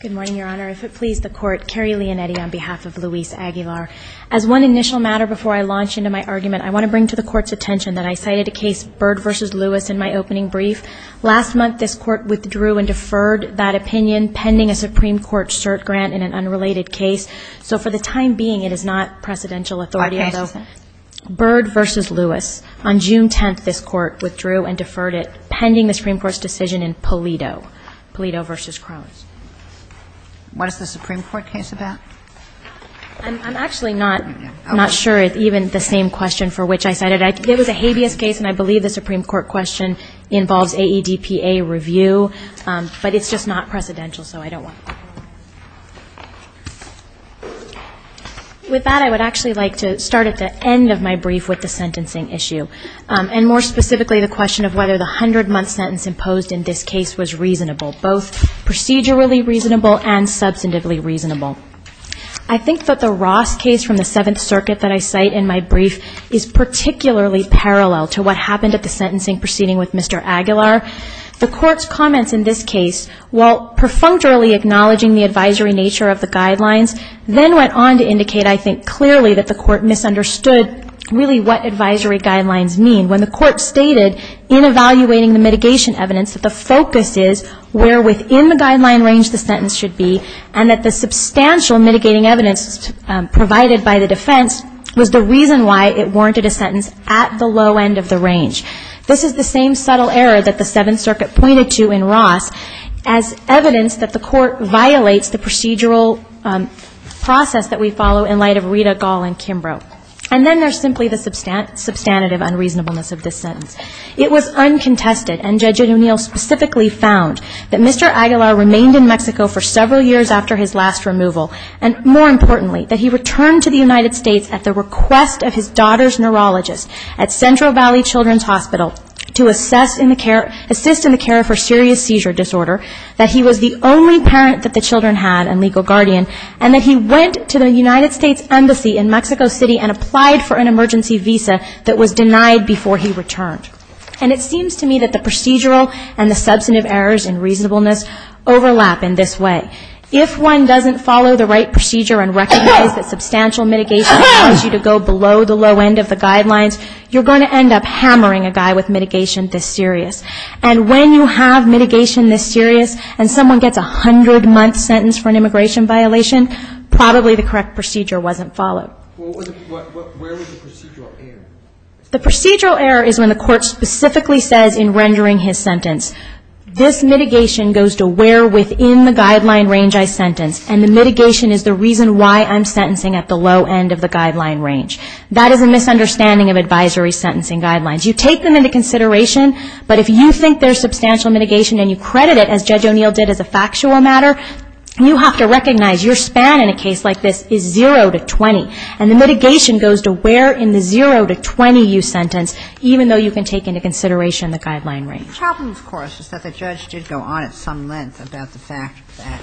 Good morning, Your Honor. If it please the Court, Carrie Leonetti on behalf of Luis Aguilar. As one initial matter before I launch into my argument, I want to bring to the Court's attention that I cited a case, Bird v. Lewis, in my opening brief. Last month, this Court withdrew and deferred that opinion pending a Supreme Court cert grant in an unrelated case. So for the time being, it is not presidential authority. Bird v. Lewis. On June 10th, this Court withdrew and deferred it pending the Supreme Court's decision in Polito. What is the Supreme Court case about? I'm actually not sure it's even the same question for which I cited it. It was a habeas case, and I believe the Supreme Court question involves AEDPA review, but it's just not precedential, so I don't want to. With that, I would actually like to start at the end of my brief with the sentencing issue. And more specifically, the question of whether the 100-month sentence imposed in this case was reasonable, both procedurally reasonable and substantively reasonable. I think that the Ross case from the Seventh Circuit that I cite in my brief is particularly parallel to what happened at the sentencing proceeding with Mr. Aguilar. The Court's comments in this case, while perfunctorily acknowledging the advisory nature of the guidelines, then went on to indicate, I think clearly, that the Court misunderstood really what advisory guidelines meant. When the Court stated in evaluating the mitigation evidence that the focus is where within the guideline range the sentence should be, and that the substantial mitigating evidence provided by the defense was the reason why it warranted a sentence at the low end of the range. This is the same subtle error that the Seventh Circuit pointed to in Ross as evidence that the Court violates the procedural process that we follow in light of Rita Gall and Kimbrough. And then there's simply the substantive unreasonableness of this sentence. It was uncontested, and Judge O'Neill specifically found that Mr. Aguilar remained in Mexico for several years after his last removal, and more importantly, that he returned to the United States at the request of his daughter's neurologist at Central Valley Children's Hospital to assist in the care for serious seizure disorder, that he was the only parent that the children had and legal guardian, and that he went to the United States Embassy in Mexico City and applied for an emergency visa that was denied before he returned. And it seems to me that the procedural and the substantive errors in reasonableness overlap in this way. If one doesn't follow the right procedure and recognize that substantial mitigation allows you to go below the low end of the guidelines, you're going to end up hammering a guy with mitigation this serious. And when you have mitigation this serious and someone gets a hundred-month sentence for an immigration violation, probably the correct procedure wasn't followed. The procedural error is when the Court specifically says in rendering his sentence, this mitigation goes to where within the guideline range I sentence, and the mitigation is the reason why I'm sentencing at the low end of the guideline range. That is a misunderstanding of advisory sentencing guidelines. You take them into consideration, but if you think there's substantial mitigation and you credit it, as Judge O'Neill did as a factual matter, you have to recognize your span in a case like this is zero to 20. And the mitigation goes to where in the zero to 20 you sentence, even though you can take into consideration the guideline range. The problem, of course, is that the judge did go on at some length about the fact that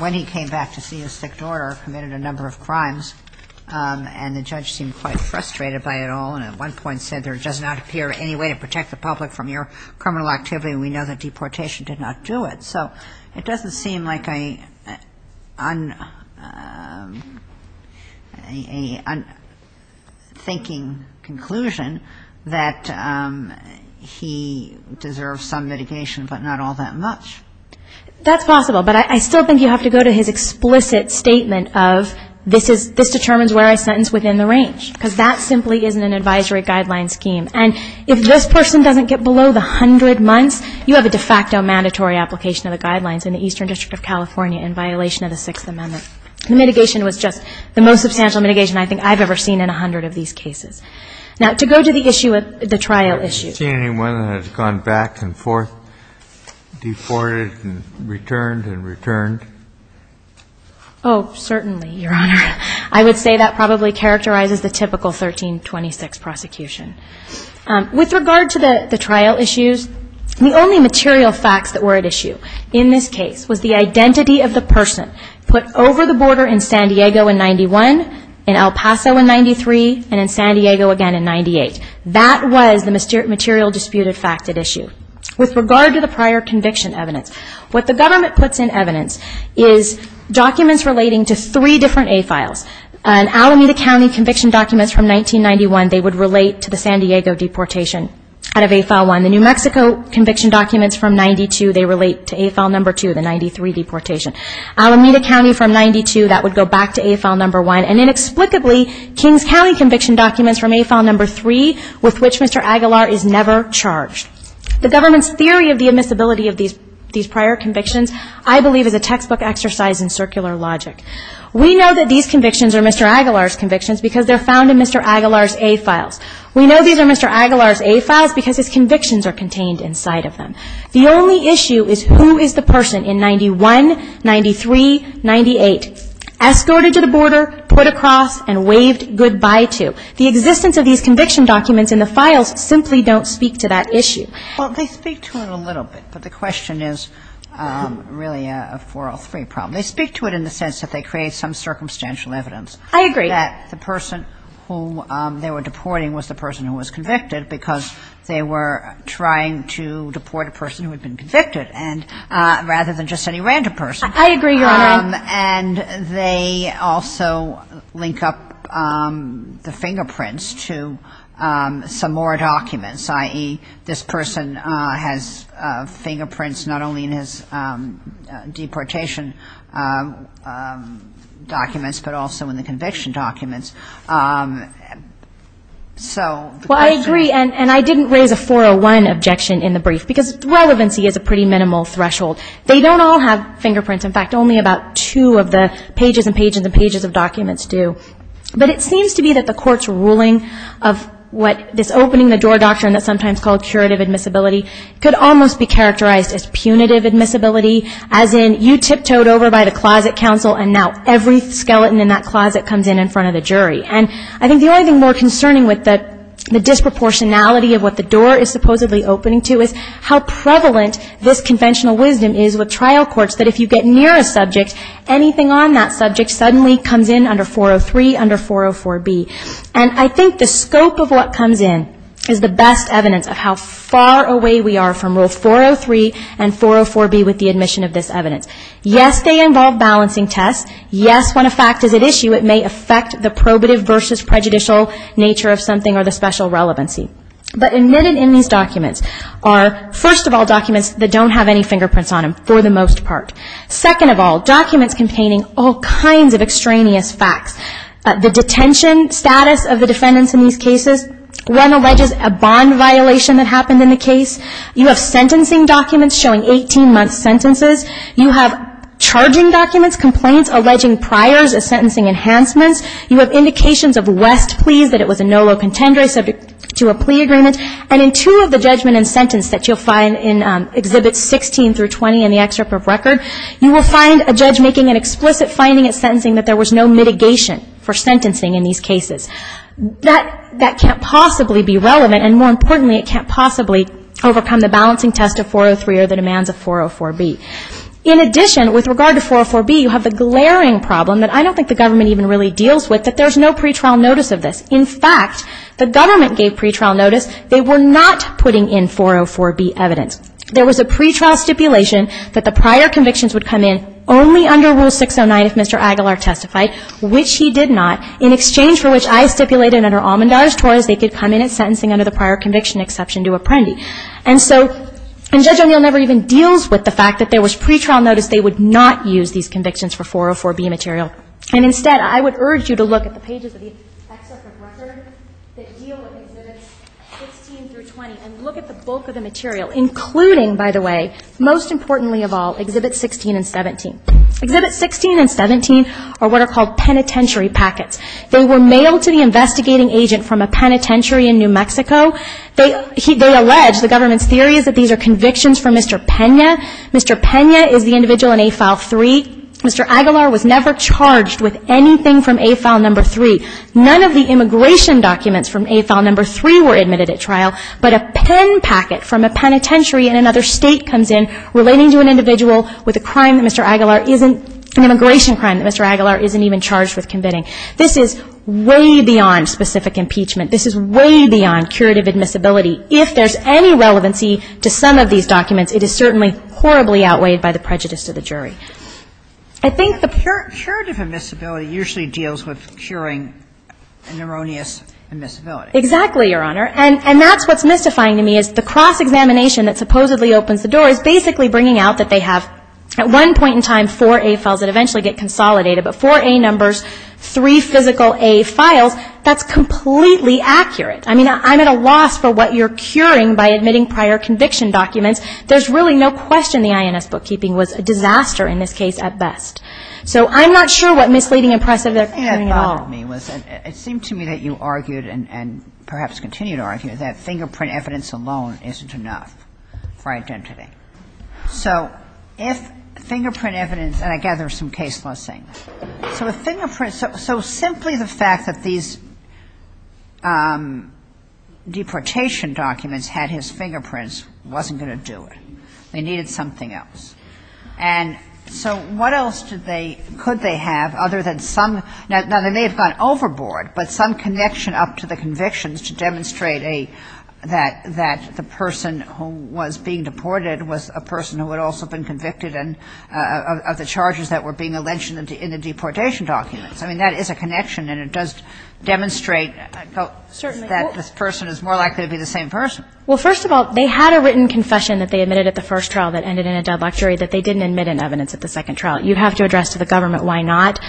when he came back to see his sick daughter, committed a number of crimes, and the judge seemed quite frustrated by it all, and at one point said, there does not appear any way to protect the public from your criminal activity, and we know that deportation did not do it. So it doesn't seem like a unthinking conclusion that he deserves some mitigation, but not all that much. That's possible, but I still think you have to go to his explicit statement of, this determines where I sentence within the range, because that simply isn't an advisory guideline scheme. And if this person doesn't get below the 100 months, you have a de facto mandatory application of the guidelines in the Eastern District of California in violation of the Sixth Amendment. So the mitigation was just the most substantial mitigation I think I've ever seen in 100 of these cases. Now, to go to the issue of the trial issues. Have you seen anyone that has gone back and forth, deported and returned and returned? Oh, certainly, Your Honor. I would say that probably characterizes the typical 1326 prosecution. With regard to the trial issues, the only material facts that were at issue in this case was the identity of the person put over the border in San Diego in 91, in El Paso in 93, and in San Diego again in 98. That was the material disputed fact at issue. With regard to the prior conviction evidence, what the government puts in evidence is documents relating to three different AFILs. In Alameda County conviction documents from 1991, they would relate to the San Diego deportation out of AFIL 1. The New Mexico conviction documents from 92, they relate to AFIL 2, the 93 deportation. Alameda County from 92, that would go back to AFIL 1. And inexplicably, Kings County conviction documents from AFIL 3, with which Mr. Aguilar is never charged. The government's theory of the admissibility of these prior convictions, I believe is a textbook exercise in circular logic. We know that these convictions are Mr. Aguilar's convictions because they're found in Mr. Aguilar's A-files. We know these are Mr. Aguilar's A-files because his convictions are contained inside of them. The only issue is who is the person in 91, 93, 98, escorted to the border, put across, and waved goodbye to. The existence of these conviction documents in the files simply don't speak to that issue. Kagan. Well, they speak to it a little bit, but the question is really a 403 problem. They speak to it in the sense that they create some circumstantial evidence. I agree. That the person who they were deporting was the person who was convicted because they were trying to deport a person who had been convicted rather than just any random person. I agree. And they also link up the fingerprints to some more documents, i.e., this person has fingerprints not only in his deportation documents but also in the conviction documents. So the question is. Well, I agree, and I didn't raise a 401 objection in the brief because relevancy is a pretty minimal threshold. They don't all have fingerprints. In fact, only about two of the pages and pages and pages of documents do. But it seems to be that the Court's ruling of what this opening-the-door doctrine that's sometimes called curative admissibility could almost be characterized as punitive admissibility, as in you tiptoed over by the closet counsel and now every skeleton in that closet comes in in front of the jury. And I think the only thing more concerning with the disproportionality of what the door is supposedly opening to is how prevalent this conventional wisdom is with trial courts that if you get near a subject, anything on that subject suddenly comes in under 403, under 404B. And I think the scope of what comes in is the best evidence of how far away we are from both 403 and 404B with the admission of this evidence. Yes, they involve balancing tests. Yes, when a fact is at issue, it may affect the probative versus prejudicial nature of something or the special relevancy. But admitted in these documents are, first of all, documents that don't have any fingerprints on them, for the most part. Second of all, documents containing all kinds of extraneous facts. The detention status of the defendants in these cases. One alleges a bond violation that happened in the case. You have sentencing documents showing 18-month sentences. You have charging documents, complaints alleging priors as sentencing enhancements. You have indications of West pleas that it was a nolo contendere subject to a plea agreement. And in two of the judgment and sentence that you'll find in Exhibits 16 through 20 in the Excerpt of Record, you will find a judge making an explicit finding at sentencing that there was no mitigation for sentencing in these cases. That can't possibly be relevant. And more importantly, it can't possibly overcome the balancing test of 403 or the demands of 404B. In addition, with regard to 404B, you have the glaring problem that I don't think the government even really deals with, that there's no pretrial notice of this. In fact, the government gave pretrial notice. They were not putting in 404B evidence. There was a pretrial stipulation that the prior convictions would come in only under Rule 609 if Mr. Aguilar testified, which he did not, in exchange for which I stipulated under Almandaz-Torres they could come in at sentencing under the prior conviction exception to Apprendi. And so Judge O'Neill never even deals with the fact that there was pretrial notice. They would not use these convictions for 404B material. And instead, I would urge you to look at the pages of the Excerpt of Record that deal with Exhibits 16 through 20 and look at the bulk of the material, including, by the way, most importantly of all, Exhibits 16 and 17. Exhibits 16 and 17 are what are called penitentiary packets. They were mailed to the investigating agent from a penitentiary in New Mexico. They allege, the government's theory is that these are convictions from Mr. Pena. Mr. Pena is the individual in A File 3. Mr. Aguilar was never charged with anything from A File Number 3. None of the immigration documents from A File Number 3 were admitted at trial, but a pen packet from a penitentiary in another state comes in relating to an individual with a crime that Mr. Aguilar isn't — an immigration crime that Mr. Aguilar isn't even charged with committing. This is way beyond specific impeachment. This is way beyond curative admissibility. If there's any relevancy to some of these documents, it is certainly horribly outweighed by the prejudice to the jury. I think the — But curative admissibility usually deals with curing neuroneous admissibility. Exactly, Your Honor. And that's what's mystifying to me, is the cross-examination that supposedly opens the door is basically bringing out that they have at one point in time four A Files that eventually get consolidated, but four A Numbers, three physical A Files. That's completely accurate. I mean, I'm at a loss for what you're curing by admitting prior conviction documents. There's really no question the INS bookkeeping was a disaster in this case at best. So I'm not sure what misleading impressive they're curing at all. It seemed to me that you argued and perhaps continue to argue that fingerprint evidence alone isn't enough for identity. So if fingerprint evidence — and I gather there's some case law saying this. So if fingerprint — so simply the fact that these deportation documents had his fingerprints wasn't going to do it. They needed something else. And so what else did they — could they have other than some — now, they may have gone overboard, but some connection up to the convictions to demonstrate a — that the person who was being deported was a person who had also been convicted of the charges that were being mentioned in the deportation documents. I mean, that is a connection, and it does demonstrate that this person is more likely to be the same person. Well, first of all, they had a written confession that they admitted at the first trial that ended in a deadlock jury that they didn't admit in evidence at the second trial. You have to address to the government why not.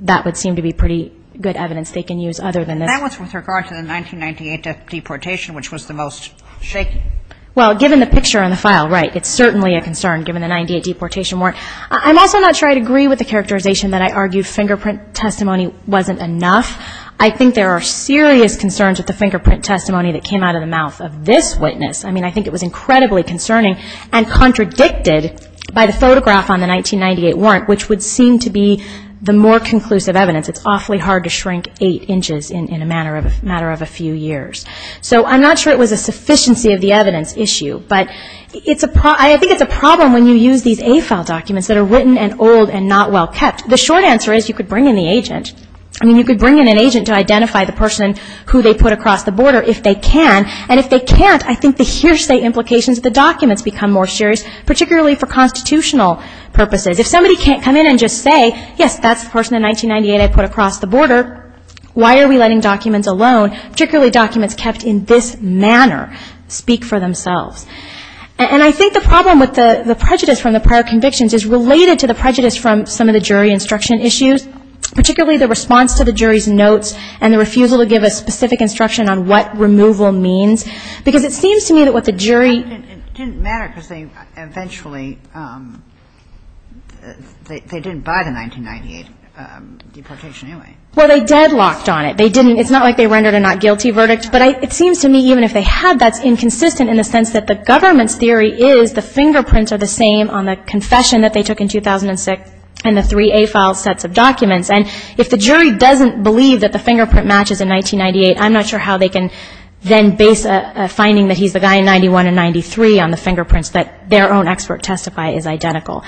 That would seem to be pretty good evidence they can use other than this. And that was with regard to the 1998 deportation, which was the most shaky. Well, given the picture on the file, right, it's certainly a concern given the 1998 deportation warrant. I'm also not sure I'd agree with the characterization that I argued fingerprint testimony wasn't enough. I think there are serious concerns with the fingerprint testimony that came out of the mouth of this witness. I mean, I think it was incredibly concerning and contradicted by the photograph on the 1998 warrant, which would seem to be the more conclusive evidence. It's awfully hard to shrink eight inches in a matter of a few years. So I'm not sure it was a sufficiency of the evidence issue, but I think it's a problem when you use these AFAL documents that are written and old and not well kept. The short answer is you could bring in the agent. I mean, you could bring in an agent to identify the person who they put across the border if they can. And if they can't, I think the hearsay implications of the documents become more serious, particularly for constitutional purposes. If somebody can't come in and just say, yes, that's the person in 1998 I put across the border, why are we letting documents alone, particularly documents kept in this manner, speak for themselves? And I think the problem with the prejudice from the prior convictions is related to the prejudice from some of the jury instruction issues, particularly the response to the jury's notes and the refusal to give a specific instruction on what removal means. Because it seems to me that what the jury ---- they didn't buy the 1998 deportation anyway. Well, they deadlocked on it. They didn't. It's not like they rendered a not guilty verdict. But it seems to me even if they had, that's inconsistent in the sense that the government's theory is the fingerprints are the same on the confession that they took in 2006 and the three AFAL sets of documents. And if the jury doesn't believe that the fingerprint matches in 1998, I'm not sure how they can then base a finding that he's the guy in 91 and 93 on the fingerprints that their own expert testify is identical.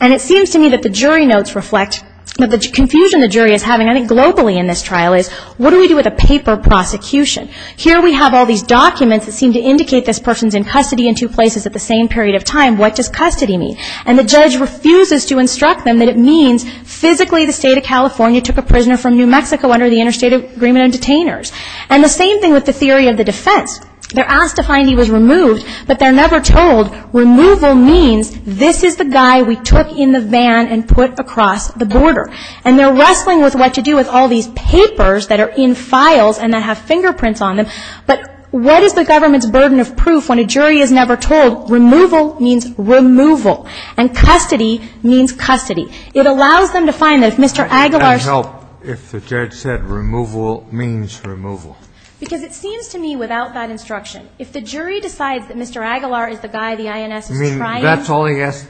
And it seems to me that the jury notes reflect the confusion the jury is having, I think, globally in this trial, is what do we do with a paper prosecution? Here we have all these documents that seem to indicate this person's in custody in two places at the same period of time. What does custody mean? And the judge refuses to instruct them that it means physically the State of California took a prisoner from New Mexico under the interstate agreement on detainers. And the same thing with the theory of the defense. They're asked to find he was removed, but they're never told removal means this is the guy we took in the van and put across the border. And they're wrestling with what to do with all these papers that are in files and that have fingerprints on them. But what is the government's burden of proof when a jury is never told removal means removal and custody means custody? It allows them to find that if Mr. Aguilar's ---- And help if the judge said removal means removal. Because it seems to me without that instruction, if the jury decides that Mr. Aguilar is the guy the INS is trying to ---- I mean, that's all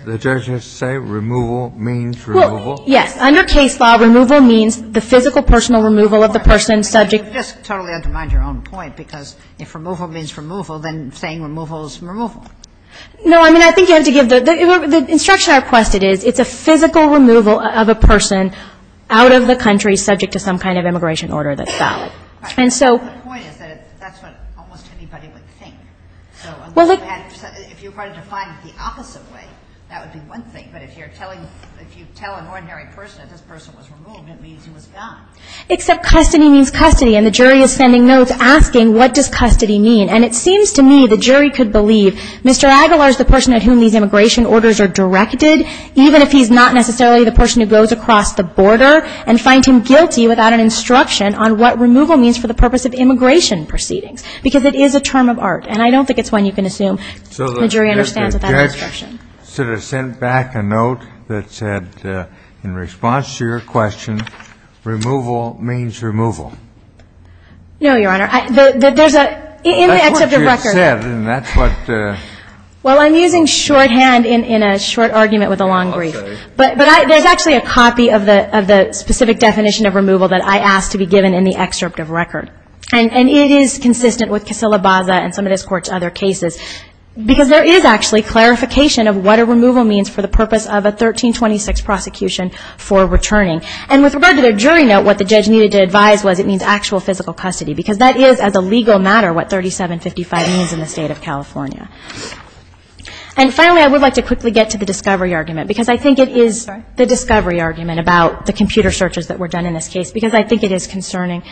the judge has to say? Removal means removal? Well, yes. Under case law, removal means the physical, personal removal of the person subject You just totally undermine your own point, because if removal means removal, then saying removal is removal. No. I mean, I think you have to give the ---- the instruction I requested is it's a physical removal of a person out of the country subject to some kind of immigration order that's valid. And so ---- But the point is that that's what almost anybody would think. So if you were to define it the opposite way, that would be one thing. But if you're telling ---- if you tell an ordinary person that this person was removed, it means he was gone. Except custody means custody. And the jury is sending notes asking what does custody mean. And it seems to me the jury could believe Mr. Aguilar is the person at whom these immigration orders are directed, even if he's not necessarily the person who goes across the border, and find him guilty without an instruction on what removal means for the purpose of immigration proceedings. Because it is a term of art. And I don't think it's one you can assume the jury understands without an instruction. So the judge sort of sent back a note that said, in response to your question, removal means removal. No, Your Honor. There's a ---- That's what you said, and that's what ---- Well, I'm using shorthand in a short argument with a long brief. Okay. But there's actually a copy of the specific definition of removal that I asked to be given in the excerpt of record. And it is consistent with Casilla-Baza and some of this Court's other cases. Because there is actually clarification of what a removal means for the purpose of a 1326 prosecution for returning. And with regard to the jury note, what the judge needed to advise was it means actual physical custody. Because that is, as a legal matter, what 3755 means in the State of California. And finally, I would like to quickly get to the discovery argument. Because I think it is the discovery argument about the computer searches that were done in this case. Because I think it is concerning.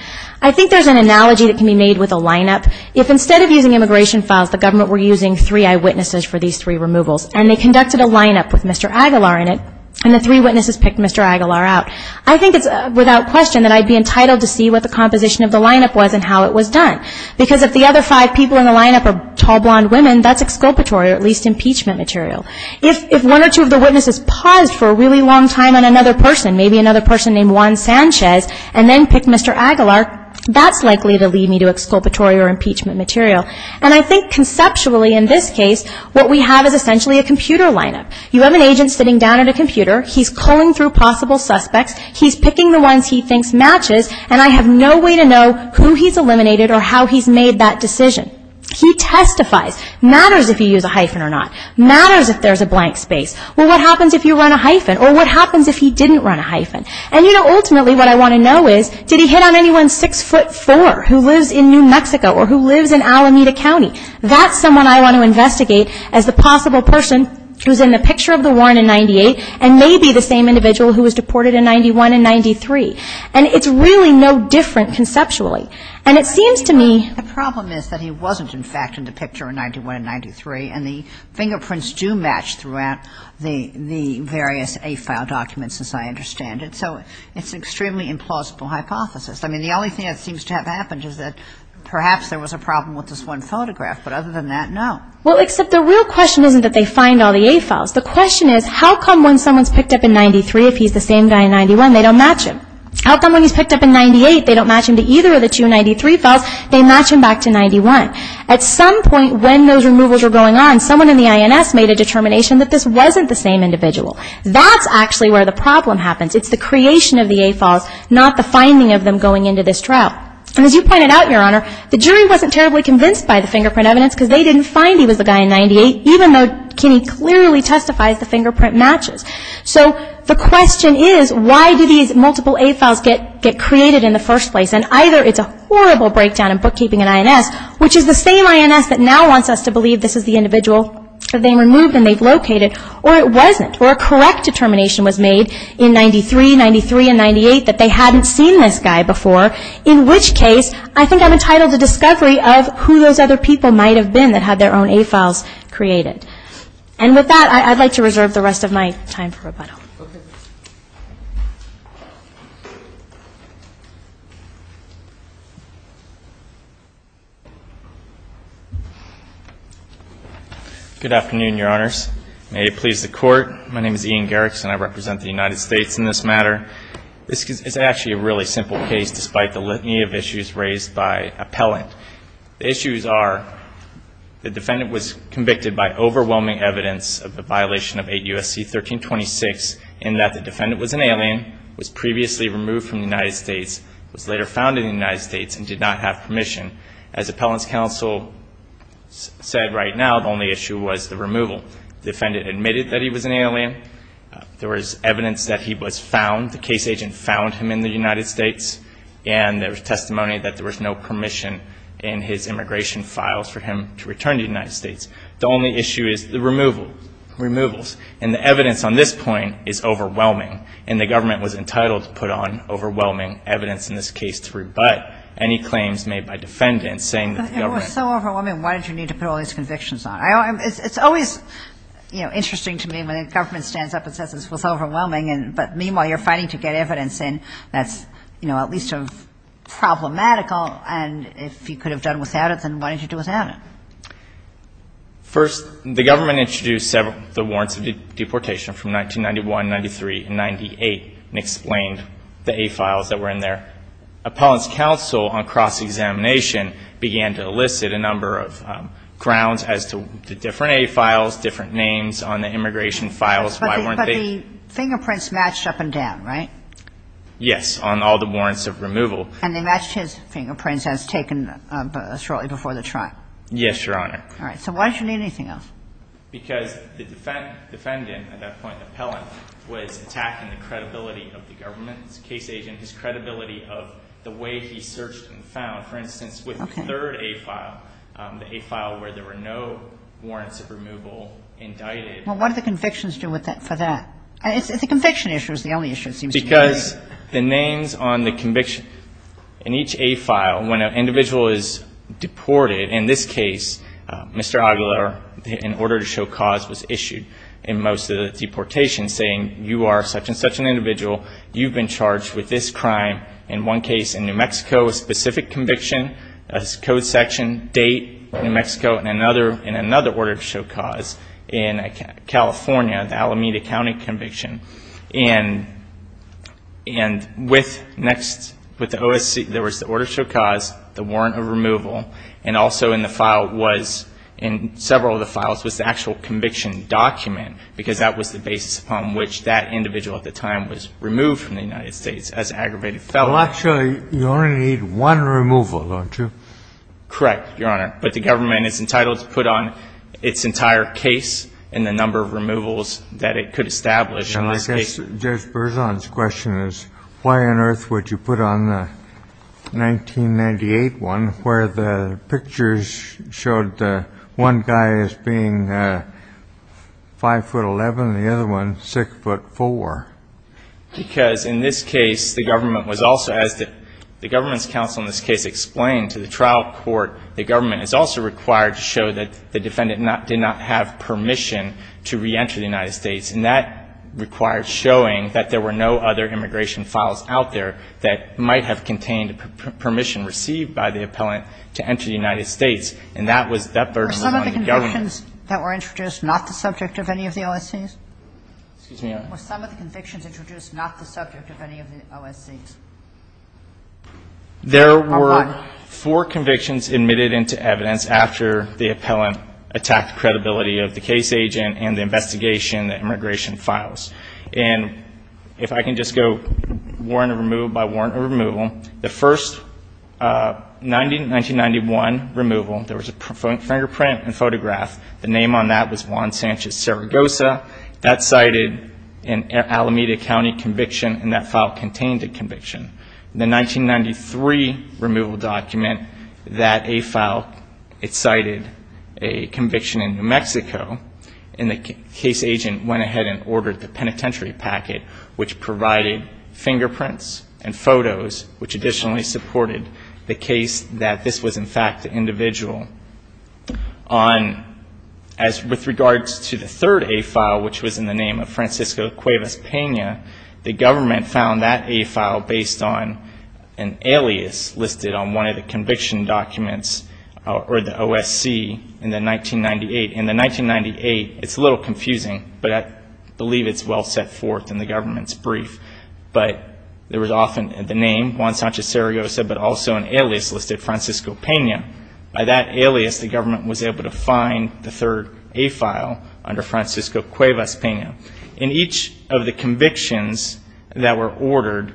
I think there's an analogy that can be made with a lineup. If instead of using immigration files, the government were using three eyewitnesses for these three removals, and they conducted a lineup with Mr. Aguilar in it, and the three witnesses picked Mr. Aguilar out, I think it's without question that I'd be entitled to see what the composition of the lineup was and how it was done. Because if the other five people in the lineup are tall, blonde women, that's exculpatory or at least impeachment material. If one or two of the witnesses paused for a really long time on another person, maybe another person named Juan Sanchez, and then picked Mr. Aguilar, that's likely to lead me to exculpatory or impeachment material. And I think conceptually in this case, what we have is essentially a computer lineup. You have an agent sitting down at a computer. He's culling through possible suspects. He's picking the ones he thinks matches. And I have no way to know who he's eliminated or how he's made that decision. He testifies. Matters if he used a hyphen or not. Matters if there's a blank space. Well, what happens if you run a hyphen? Or what happens if he didn't run a hyphen? And, you know, ultimately what I want to know is, did he hit on anyone six foot four who lives in New Mexico or who lives in Alameda County? That's someone I want to investigate as the possible person who's in the picture of the warrant in 98 and may be the same individual who was deported in 91 and 93. And it's really no different conceptually. And it seems to me. The problem is that he wasn't, in fact, in the picture in 91 and 93. And the fingerprints do match throughout the various A file documents as I understand it. So it's an extremely implausible hypothesis. I mean, the only thing that seems to have happened is that perhaps there was a problem with this one photograph. But other than that, no. Well, except the real question isn't that they find all the A files. The question is, how come when someone's picked up in 93, if he's the same guy in 91, they don't match him? How come when he's picked up in 98, they don't match him to either of the two 93 files? They match him back to 91. At some point when those removals were going on, someone in the INS made a determination that this wasn't the same individual. That's actually where the problem happens. It's the creation of the A files, not the finding of them going into this trial. And as you pointed out, Your Honor, the jury wasn't terribly convinced by the fingerprint evidence because they didn't find he was the guy in 98, even though Kinney clearly testifies the fingerprint matches. So the question is, why do these multiple A files get created in the first place? And either it's a horrible breakdown in bookkeeping and INS, which is the same INS that now wants us to believe this is the individual that they removed and they've located, or it wasn't, or a correct determination was made in 93, 93, and 98 that they hadn't seen this guy before, in which case I think I'm entitled to discovery of who those other people might have been that had their own A files created. And with that, I'd like to reserve the rest of my time for rebuttal. Okay. Good afternoon, Your Honors. May it please the Court. My name is Ian Garrickson. I represent the United States in this matter. This is actually a really simple case, despite the litany of issues raised by appellant. The issues are the defendant was convicted by overwhelming evidence of the violation of 8 U.S.C. 1326 in that the defendant was an alien, was previously removed from the United States, was later found in the United States, and did not have permission. As appellant's counsel said right now, the only issue was the removal. The defendant admitted that he was an alien. There was evidence that he was found, the case agent found him in the United States, and there was testimony that there was no permission in his immigration files for him to return to the United States. The only issue is the removal, removals. And the evidence on this point is overwhelming, and the government was entitled to put on overwhelming evidence in this case to rebut any claims made by defendants saying that the government was so overwhelming, why did you need to put all these convictions on? It's always, you know, interesting to me when the government stands up and says this was overwhelming, but meanwhile you're fighting to get evidence in that's, you know, at least sort of problematical, and if you could have done without it, then why didn't you do without it? First, the government introduced several, the warrants of deportation from 1991, 93, and 98, and explained the A files that were in there. Appellant's counsel on cross-examination began to elicit a number of grounds as to the different A files, different names on the immigration files. But the fingerprints matched up and down, right? Yes, on all the warrants of removal. And they matched his fingerprints as taken shortly before the trial? Yes, Your Honor. All right. So why didn't you need anything else? Because the defendant at that point, the appellant, was attacking the credibility of the government's case agent, his credibility of the way he searched and found. For instance, with the third A file, the A file where there were no warrants of removal indicted. Well, what do the convictions do for that? The conviction issue is the only issue, it seems to me. Because the names on the conviction, in each A file, when an individual is deported, in this case, Mr. Aguilar, in order to show cause, was issued in most of the deportations saying you are such and such an individual, you've been charged with this crime. In one case in New Mexico, a specific conviction, code section, date, New Mexico, in another order to show cause, in California, the Alameda County conviction. And with the OSC, there was the order to show cause, the warrant of removal, and also in the file was, in several of the files, was the actual conviction document, because that was the basis upon which that individual at the time was removed from the United States as an aggravated felon. Well, actually, you only need one removal, don't you? Correct, Your Honor. But the government is entitled to put on its entire case and the number of removals that it could establish. And I guess Judge Berzon's question is why on earth would you put on the 1998 one where the pictures showed one guy as being 5'11", the other one 6'4"? Because in this case, the government was also, as the government's counsel in this case explained to the trial court, the government is also required to show that the defendant did not have permission to reenter the United States. And that required showing that there were no other immigration files out there that might have contained permission received by the appellant to enter the United States. And that was that burden on the government. Were some of the convictions that were introduced not the subject of any of the OSCs? Excuse me, Your Honor. Were some of the convictions introduced not the subject of any of the OSCs? There were four convictions admitted into evidence after the appellant attacked the credibility of the case agent and the investigation, the immigration files. And if I can just go warrant of removal by warrant of removal, the first 1991 removal, there was a fingerprint and photograph. The name on that was Juan Sanchez Saragosa. That cited an Alameda County conviction, and that file contained a conviction. The 1993 removal document, that A file, it cited a conviction in New Mexico, and the case agent went ahead and ordered the penitentiary packet, which provided fingerprints and photos, which additionally supported the case that this was, in fact, the individual. On as with regards to the third A file, which was in the name of Francisco Cuevas Pena, the government found that A file based on an alias listed on one of the conviction documents or the OSC in the 1998. In the 1998, it's a little confusing, but I believe it's well set forth in the government's brief. But there was often the name, Juan Sanchez Saragosa, but also an alias listed, Francisco Pena. By that alias, the government was able to find the third A file under Francisco Cuevas Pena. And each of the convictions that were ordered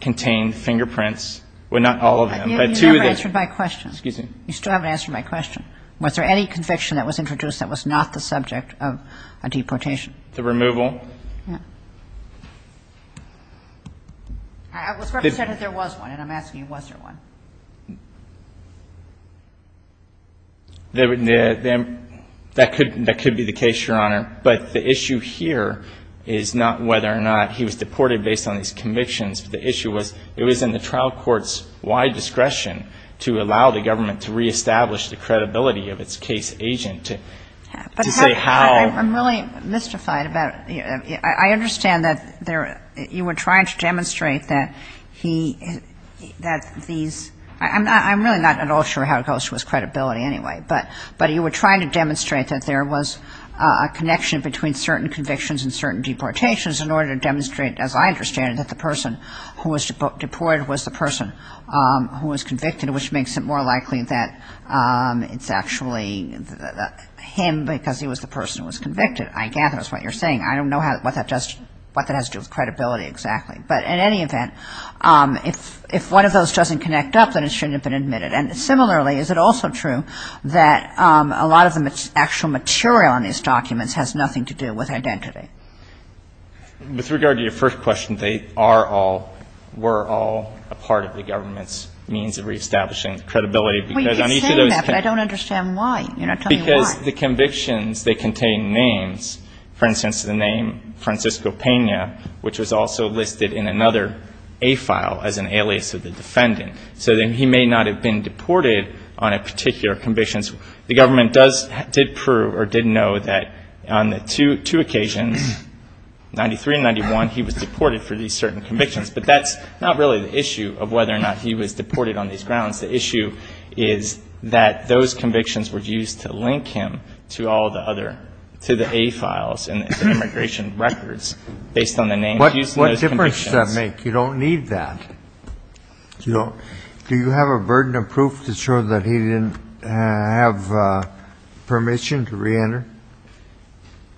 contained fingerprints. Well, not all of them, but two of them. Kagan. You still haven't answered my question. Was there any conviction that was introduced that was not the subject of a deportation? The removal? Yeah. I was going to say that there was one, and I'm asking, was there one? That could be the case, Your Honor. But the issue here is not whether or not he was deported based on these convictions. The issue was it was in the trial court's wide discretion to allow the government to reestablish the credibility of its case agent to say how. I'm really mystified about it. I understand that you were trying to demonstrate that he, that these, I'm really not at all sure how it goes to his credibility anyway, but you were trying to demonstrate that there was a connection between certain convictions and certain deportations in order to demonstrate, as I understand it, that the person who was deported was the person who was convicted, which makes it more likely that it's actually him because he was the person who was convicted. I gather that's what you're saying. I don't know what that has to do with credibility exactly. But in any event, if one of those doesn't connect up, then it shouldn't have been admitted. And similarly, is it also true that a lot of the actual material in these documents has nothing to do with identity? With regard to your first question, they are all, were all a part of the government's means of reestablishing the credibility because on each of those cases. Well, you could say that, but I don't understand why. You're not telling me why. Because the convictions, they contain names. For instance, the name Francisco Pena, which was also listed in another A file as an alias of the defendant. So then he may not have been deported on a particular conviction. The government does, did prove or did know that on the two occasions, 93 and 91, he was deported for these certain convictions. But that's not really the issue of whether or not he was deported on these grounds. The issue is that those convictions were used to link him to all the other, to the A files and immigration records based on the names used in those convictions. What difference does that make? You don't need that. Do you have a burden of proof to show that he didn't have permission to reenter?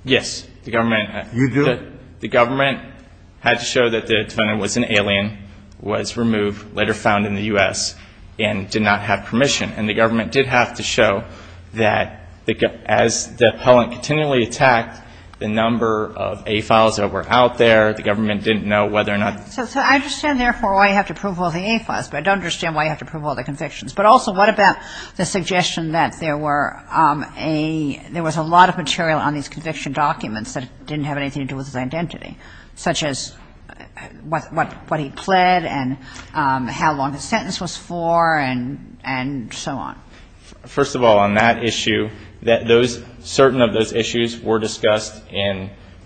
Yes. The government. You do? The government had to show that the defendant was an alien, was removed, later found in the U.S., and did not have permission. And the government did have to show that as the appellant continually attacked the number of A files that were out there, the government didn't know whether or not. So I understand, therefore, why you have to prove all the A files, but I don't understand why you have to prove all the convictions. But also, what about the suggestion that there were a, there was a lot of material on these conviction documents that didn't have anything to do with his identity, such as what he pled and how long his sentence was for and so on? First of all, on that issue, certain of those issues were discussed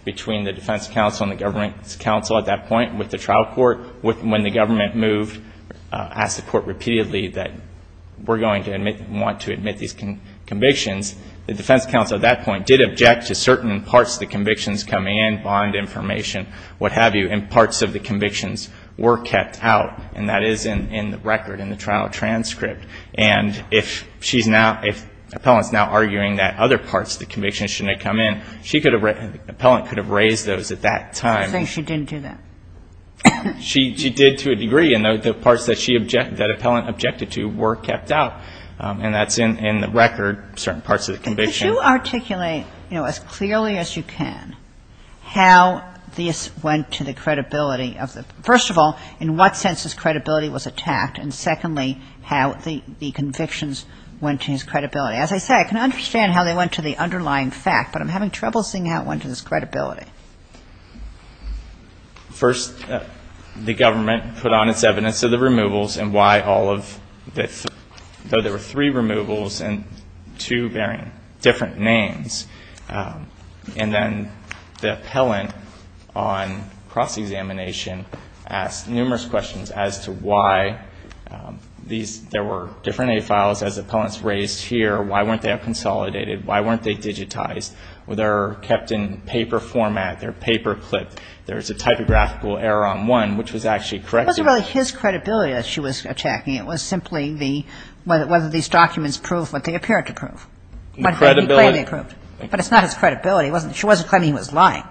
between the defense counsel and the government counsel at that point with the trial court. When the government moved, asked the court repeatedly that we're going to want to admit these convictions, the defense counsel at that point did object to certain parts of the convictions coming in, bond information, what have you, and parts of the convictions were kept out. And that is in the record in the trial transcript. And if she's now, if the appellant's now arguing that other parts of the convictions shouldn't have come in, she could have, the appellant could have raised those at that time. So she didn't do that? She did to a degree. And the parts that she object, that appellant objected to were kept out. And that's in the record, certain parts of the conviction. If you articulate, you know, as clearly as you can, how this went to the credibility of the, first of all, in what sense this credibility was attacked, and secondly, how the convictions went to his credibility. As I say, I can understand how they went to the underlying fact, but I'm having trouble seeing how it went to his credibility. First, the government put on its evidence of the removals and why all of the, though there were three removals and two varying, different names. And then the appellant on cross-examination asked numerous questions as to why these, there were different A files as appellants raised here. Why weren't they consolidated? Why weren't they digitized? Were they kept in paper format? They're paper clipped. There's a typographical error on one, which was actually corrected. It wasn't really his credibility that she was attacking. It was simply the, whether these documents prove what they appear to prove. The credibility. But it's not his credibility. It wasn't, she wasn't claiming he was lying.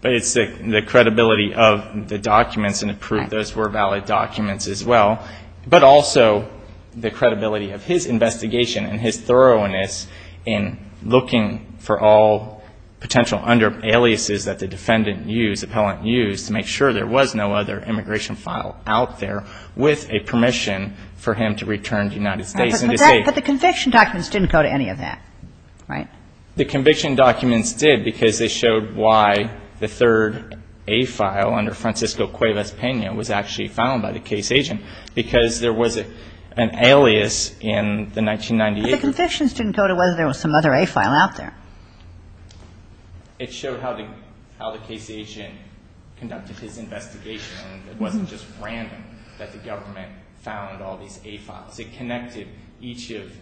But it's the credibility of the documents and the proof those were valid documents as well. But also the credibility of his investigation and his thoroughness in looking for all potential under aliases that the defendant used, to make sure there was no other immigration file out there with a permission for him to return to the United States. But the conviction documents didn't go to any of that, right? The conviction documents did because they showed why the third A file under Francisco Cuevas-Pena was actually found by the case agent. Because there was an alias in the 1998. But the convictions didn't go to whether there was some other A file out there. It showed how the case agent conducted his investigation. And it wasn't just random that the government found all these A files. It connected each of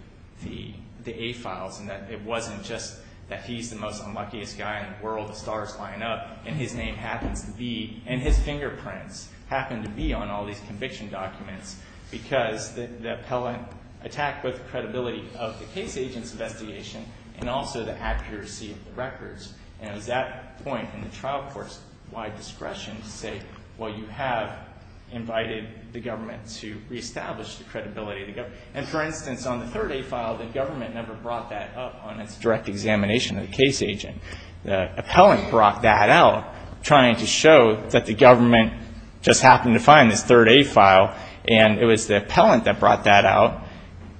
the A files. And that it wasn't just that he's the most unluckiest guy in the world. The stars line up. And his name happens to be, and his fingerprints happen to be on all these conviction documents. Because the appellant attacked both the credibility of the case agent's and the accuracy of the records. And it was that point in the trial court's wide discretion to say, well, you have invited the government to reestablish the credibility of the government. And for instance, on the third A file, the government never brought that up on its direct examination of the case agent. The appellant brought that out, trying to show that the government just happened to find this third A file. And it was the appellant that brought that out,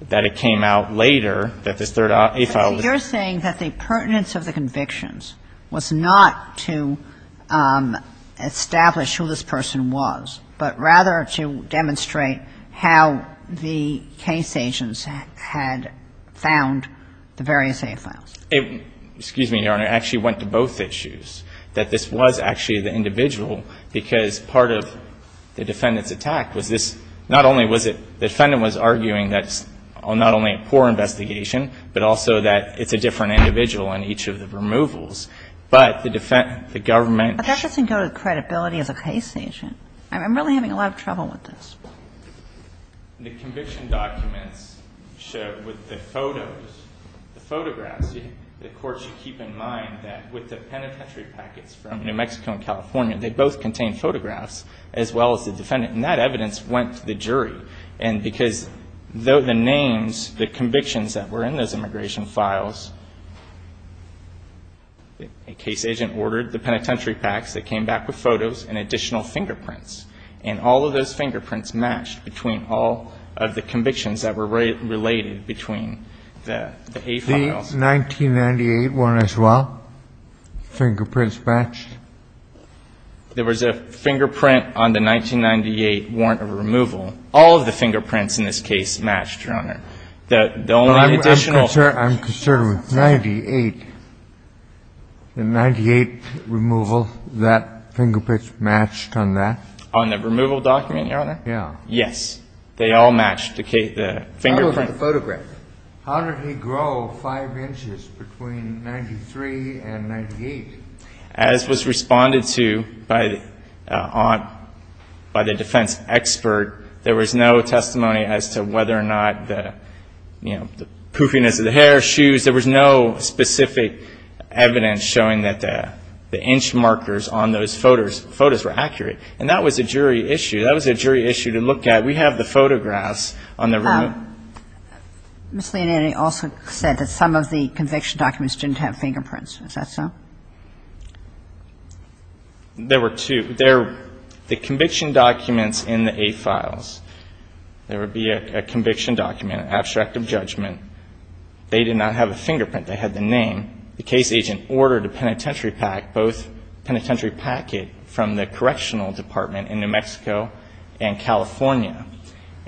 that it came out later, that this third A file. So you're saying that the pertinence of the convictions was not to establish who this person was, but rather to demonstrate how the case agents had found the various A files. Excuse me, Your Honor. It actually went to both issues, that this was actually the individual, because part of the defendant's attack was this not only was it the defendant was arguing that it's not only a poor investigation, but also that it's a different individual in each of the removals. But the government ---- But that doesn't go to credibility as a case agent. I'm really having a lot of trouble with this. The conviction documents show with the photos, the photographs, the court should keep in mind that with the penitentiary packets from New Mexico and California, they both contain photographs as well as the defendant. And that evidence went to the jury. And because the names, the convictions that were in those immigration files, a case agent ordered the penitentiary packs that came back with photos and additional fingerprints. And all of those fingerprints matched between all of the convictions that were related between the A files. The 1998 one as well? Fingerprints matched? There was a fingerprint on the 1998 warrant of removal. All of the fingerprints in this case matched, Your Honor. The only additional ---- I'm concerned with 98. The 98 removal, that fingerprint matched on that? On the removal document, Your Honor? Yeah. Yes. They all matched the fingerprint. How about the photograph? How did he grow 5 inches between 93 and 98? As was responded to by the defense expert, there was no testimony as to whether or not the, you know, the poofiness of the hair, shoes. There was no specific evidence showing that the inch markers on those photos were accurate. And that was a jury issue. That was a jury issue to look at. We have the photographs on the room. Ms. Leonetti also said that some of the conviction documents didn't have fingerprints. Is that so? There were two. The conviction documents in the A files, there would be a conviction document, abstract of judgment. They did not have a fingerprint. They had the name. The case agent ordered a penitentiary pack, both penitentiary packet from the correctional department in New Mexico and California.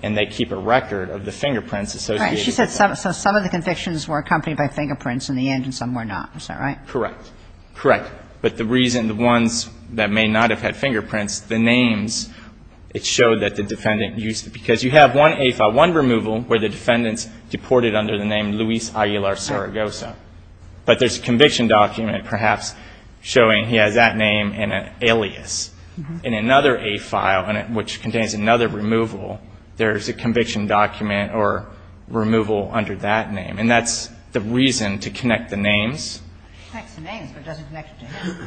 And they keep a record of the fingerprints associated with it. Right. She said some of the convictions were accompanied by fingerprints in the end and some were not. Is that right? Correct. Correct. But the reason the ones that may not have had fingerprints, the names, it showed that the defendant used it. Because you have one A file, one removal, where the defendant's deported under the name Luis Aguilar Zaragoza. But there's a conviction document perhaps showing he has that name and an alias. In another A file, which contains another removal, there's a conviction document or removal under that name. And that's the reason to connect the names. It connects the names, but it doesn't connect to him.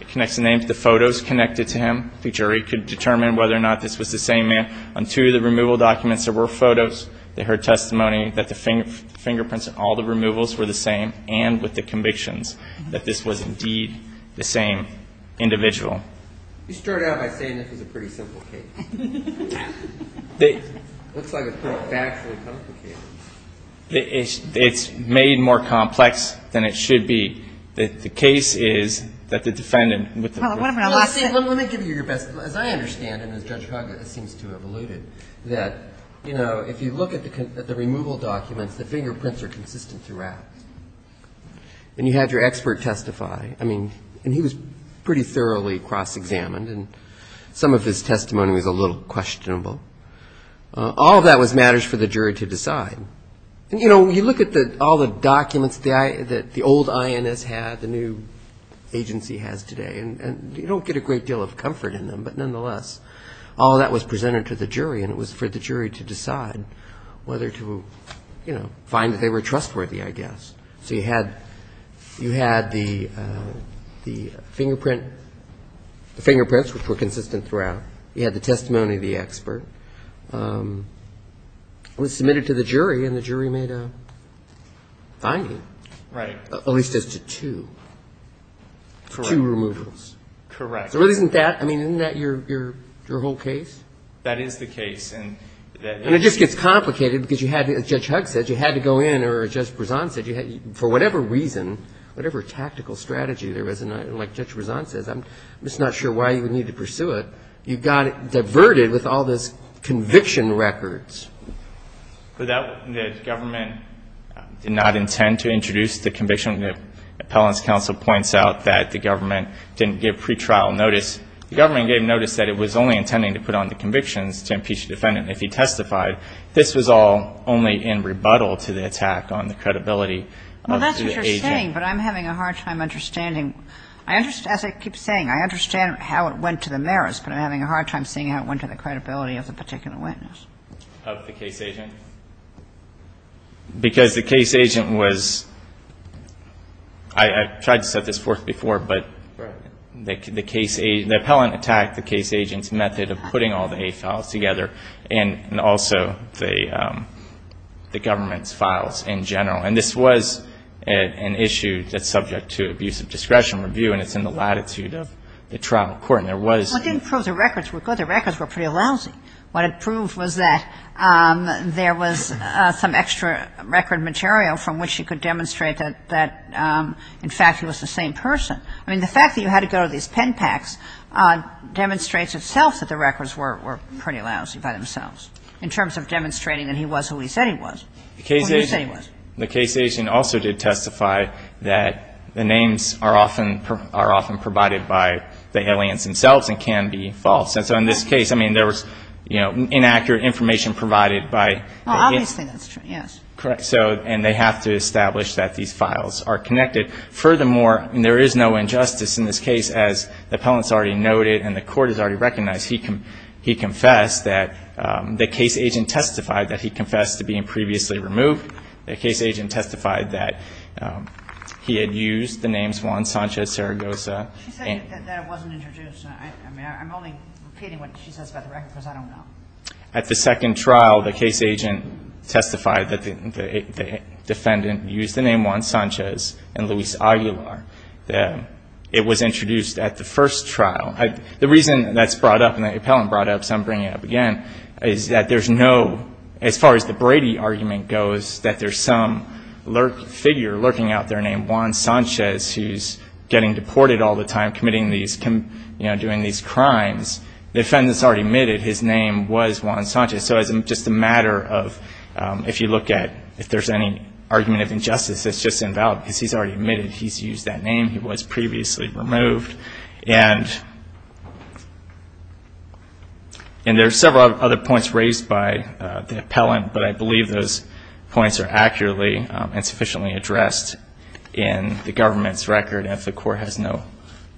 It connects the names. The photos connected to him. The jury could determine whether or not this was the same man. On two of the removal documents, there were photos. They heard testimony that the fingerprints in all the removals were the same and with the convictions, that this was indeed the same individual. You started out by saying this was a pretty simple case. It looks like a factually complicated case. It's made more complex than it should be. The case is that the defendant with the ---- Let me give you your best. As I understand, and as Judge Haga seems to have alluded, that, you know, if you look at the removal documents, the fingerprints are consistent throughout. And you had your expert testify. I mean, and he was pretty thoroughly cross-examined, and some of his testimony was a little questionable. All of that was matters for the jury to decide. And, you know, you look at all the documents that the old INS had, the new agency has today, and you don't get a great deal of comfort in them. But nonetheless, all of that was presented to the jury, and it was for the jury to decide whether to, you know, find that they were trustworthy, I guess. So you had the fingerprints, which were consistent throughout. You had the testimony of the expert. It was submitted to the jury, and the jury made a finding. Right. At least as to two. Correct. Two removals. Correct. So isn't that, I mean, isn't that your whole case? That is the case. And it just gets complicated because you had, as Judge Hugg said, you had to go in, or as Judge Brezon said, for whatever reason, whatever tactical strategy there was, and like Judge Brezon says, I'm just not sure why you would need to pursue it, you got it diverted with all this conviction records. The government did not intend to introduce the conviction. Appellant's counsel points out that the government didn't give pretrial notice. The government gave notice that it was only intending to put on the convictions to impeach the defendant if he testified. This was all only in rebuttal to the attack on the credibility of the agent. Well, that's what you're saying, but I'm having a hard time understanding. As I keep saying, I understand how it went to the merits, but I'm having a hard time seeing how it went to the credibility of the particular witness. Of the case agent? Because the case agent was, I tried to set this forth before, but the appellant attacked the case agent's method of putting all the A files together and also the government's files in general. And this was an issue that's subject to abuse of discretion review and it's in the latitude of the trial court. Well, it didn't prove the records were good. The records were pretty lousy. What it proved was that there was some extra record material from which he could demonstrate that, in fact, he was the same person. I mean, the fact that you had to go to these pen packs demonstrates itself that the records were pretty lousy by themselves in terms of demonstrating that he was who he said he was. Well, you say he was. The case agent also did testify that the names are often provided by the aliens themselves and can be false. And so in this case, I mean, there was, you know, inaccurate information provided by the aliens. Well, obviously that's true, yes. Correct. And they have to establish that these files are connected. Furthermore, there is no injustice in this case. As the appellant's already noted and the Court has already recognized, he confessed that the case agent testified that he confessed to being previously removed. The case agent testified that he had used the names Juan Sanchez Zaragoza. She said that it wasn't introduced. I mean, I'm only repeating what she says about the records because I don't know. At the second trial, the case agent testified that the defendant used the name Juan Sanchez and Luis Aguilar. It was introduced at the first trial. The reason that's brought up and the appellant brought up, so I'm bringing it up again, is that there's no, as far as the Brady argument goes, that there's some figure lurking out there named Juan Sanchez who's getting deported all the time, committing these, you know, doing these crimes. The defendant's already admitted his name was Juan Sanchez. So it's just a matter of if you look at if there's any argument of injustice, it's just invalid because he's already admitted he's used that name. He was previously removed. And there are several other points raised by the appellant, but I believe those points are accurately and sufficiently addressed in the government's record. And if the Court has no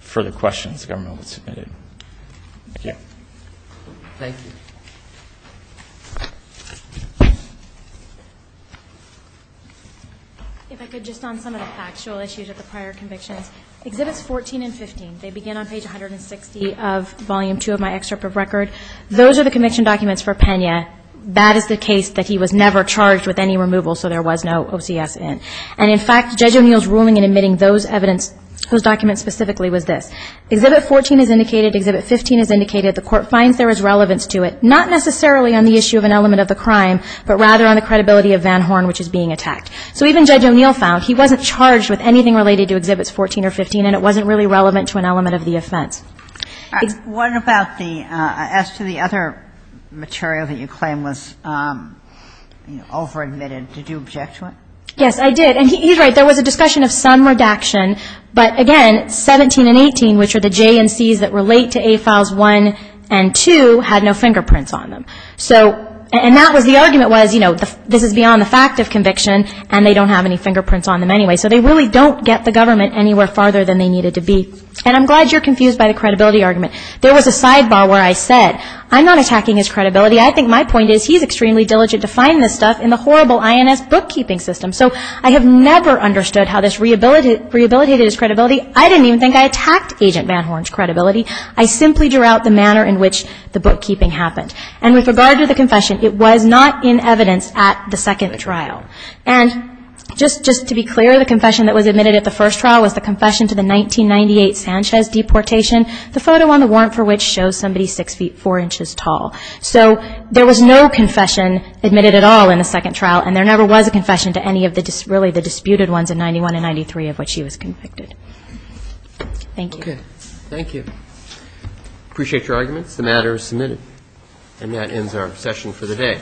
further questions, the government will submit it. Thank you. Thank you. If I could just on some of the factual issues of the prior convictions. Exhibits 14 and 15, they begin on page 160 of Volume 2 of my excerpt of record. Those are the conviction documents for Pena. That is the case that he was never charged with any removal, so there was no OCS in. And, in fact, Judge O'Neill's ruling in admitting those documents specifically was this. Exhibit 14 is indicated. Exhibit 15 is indicated. The Court finds there is relevance to it, not necessarily on the issue of an element of the crime, but rather on the credibility of Van Horn, which is being attacked. So even Judge O'Neill found he wasn't charged with anything related to Exhibits 14 or 15, and it wasn't really relevant to an element of the offense. What about the other material that you claim was over-admitted? Did you object to it? Yes, I did. And he's right. There was a discussion of some redaction, but, again, 17 and 18, which are the J and C's that relate to A files 1 and 2, had no fingerprints on them. And that was the argument was, you know, this is beyond the fact of conviction, and they don't have any fingerprints on them anyway. So they really don't get the government anywhere farther than they needed to be. And I'm glad you're confused by the credibility argument. There was a sidebar where I said, I'm not attacking his credibility. I think my point is he's extremely diligent to find this stuff in the horrible INS bookkeeping system. So I have never understood how this rehabilitated his credibility. I didn't even think I attacked Agent Van Horn's credibility. I simply drew out the manner in which the bookkeeping happened. And with regard to the confession, it was not in evidence at the second trial. And just to be clear, the confession that was admitted at the first trial was the confession to the 1998 Sanchez deportation, the photo on the warrant for which shows somebody 6 feet 4 inches tall. So there was no confession admitted at all in the second trial, and there never was a confession to any of the really the disputed ones in 91 and 93 of which she was convicted. Thank you. Okay. Thank you. Appreciate your arguments. The matter is submitted. And that ends our session for the day.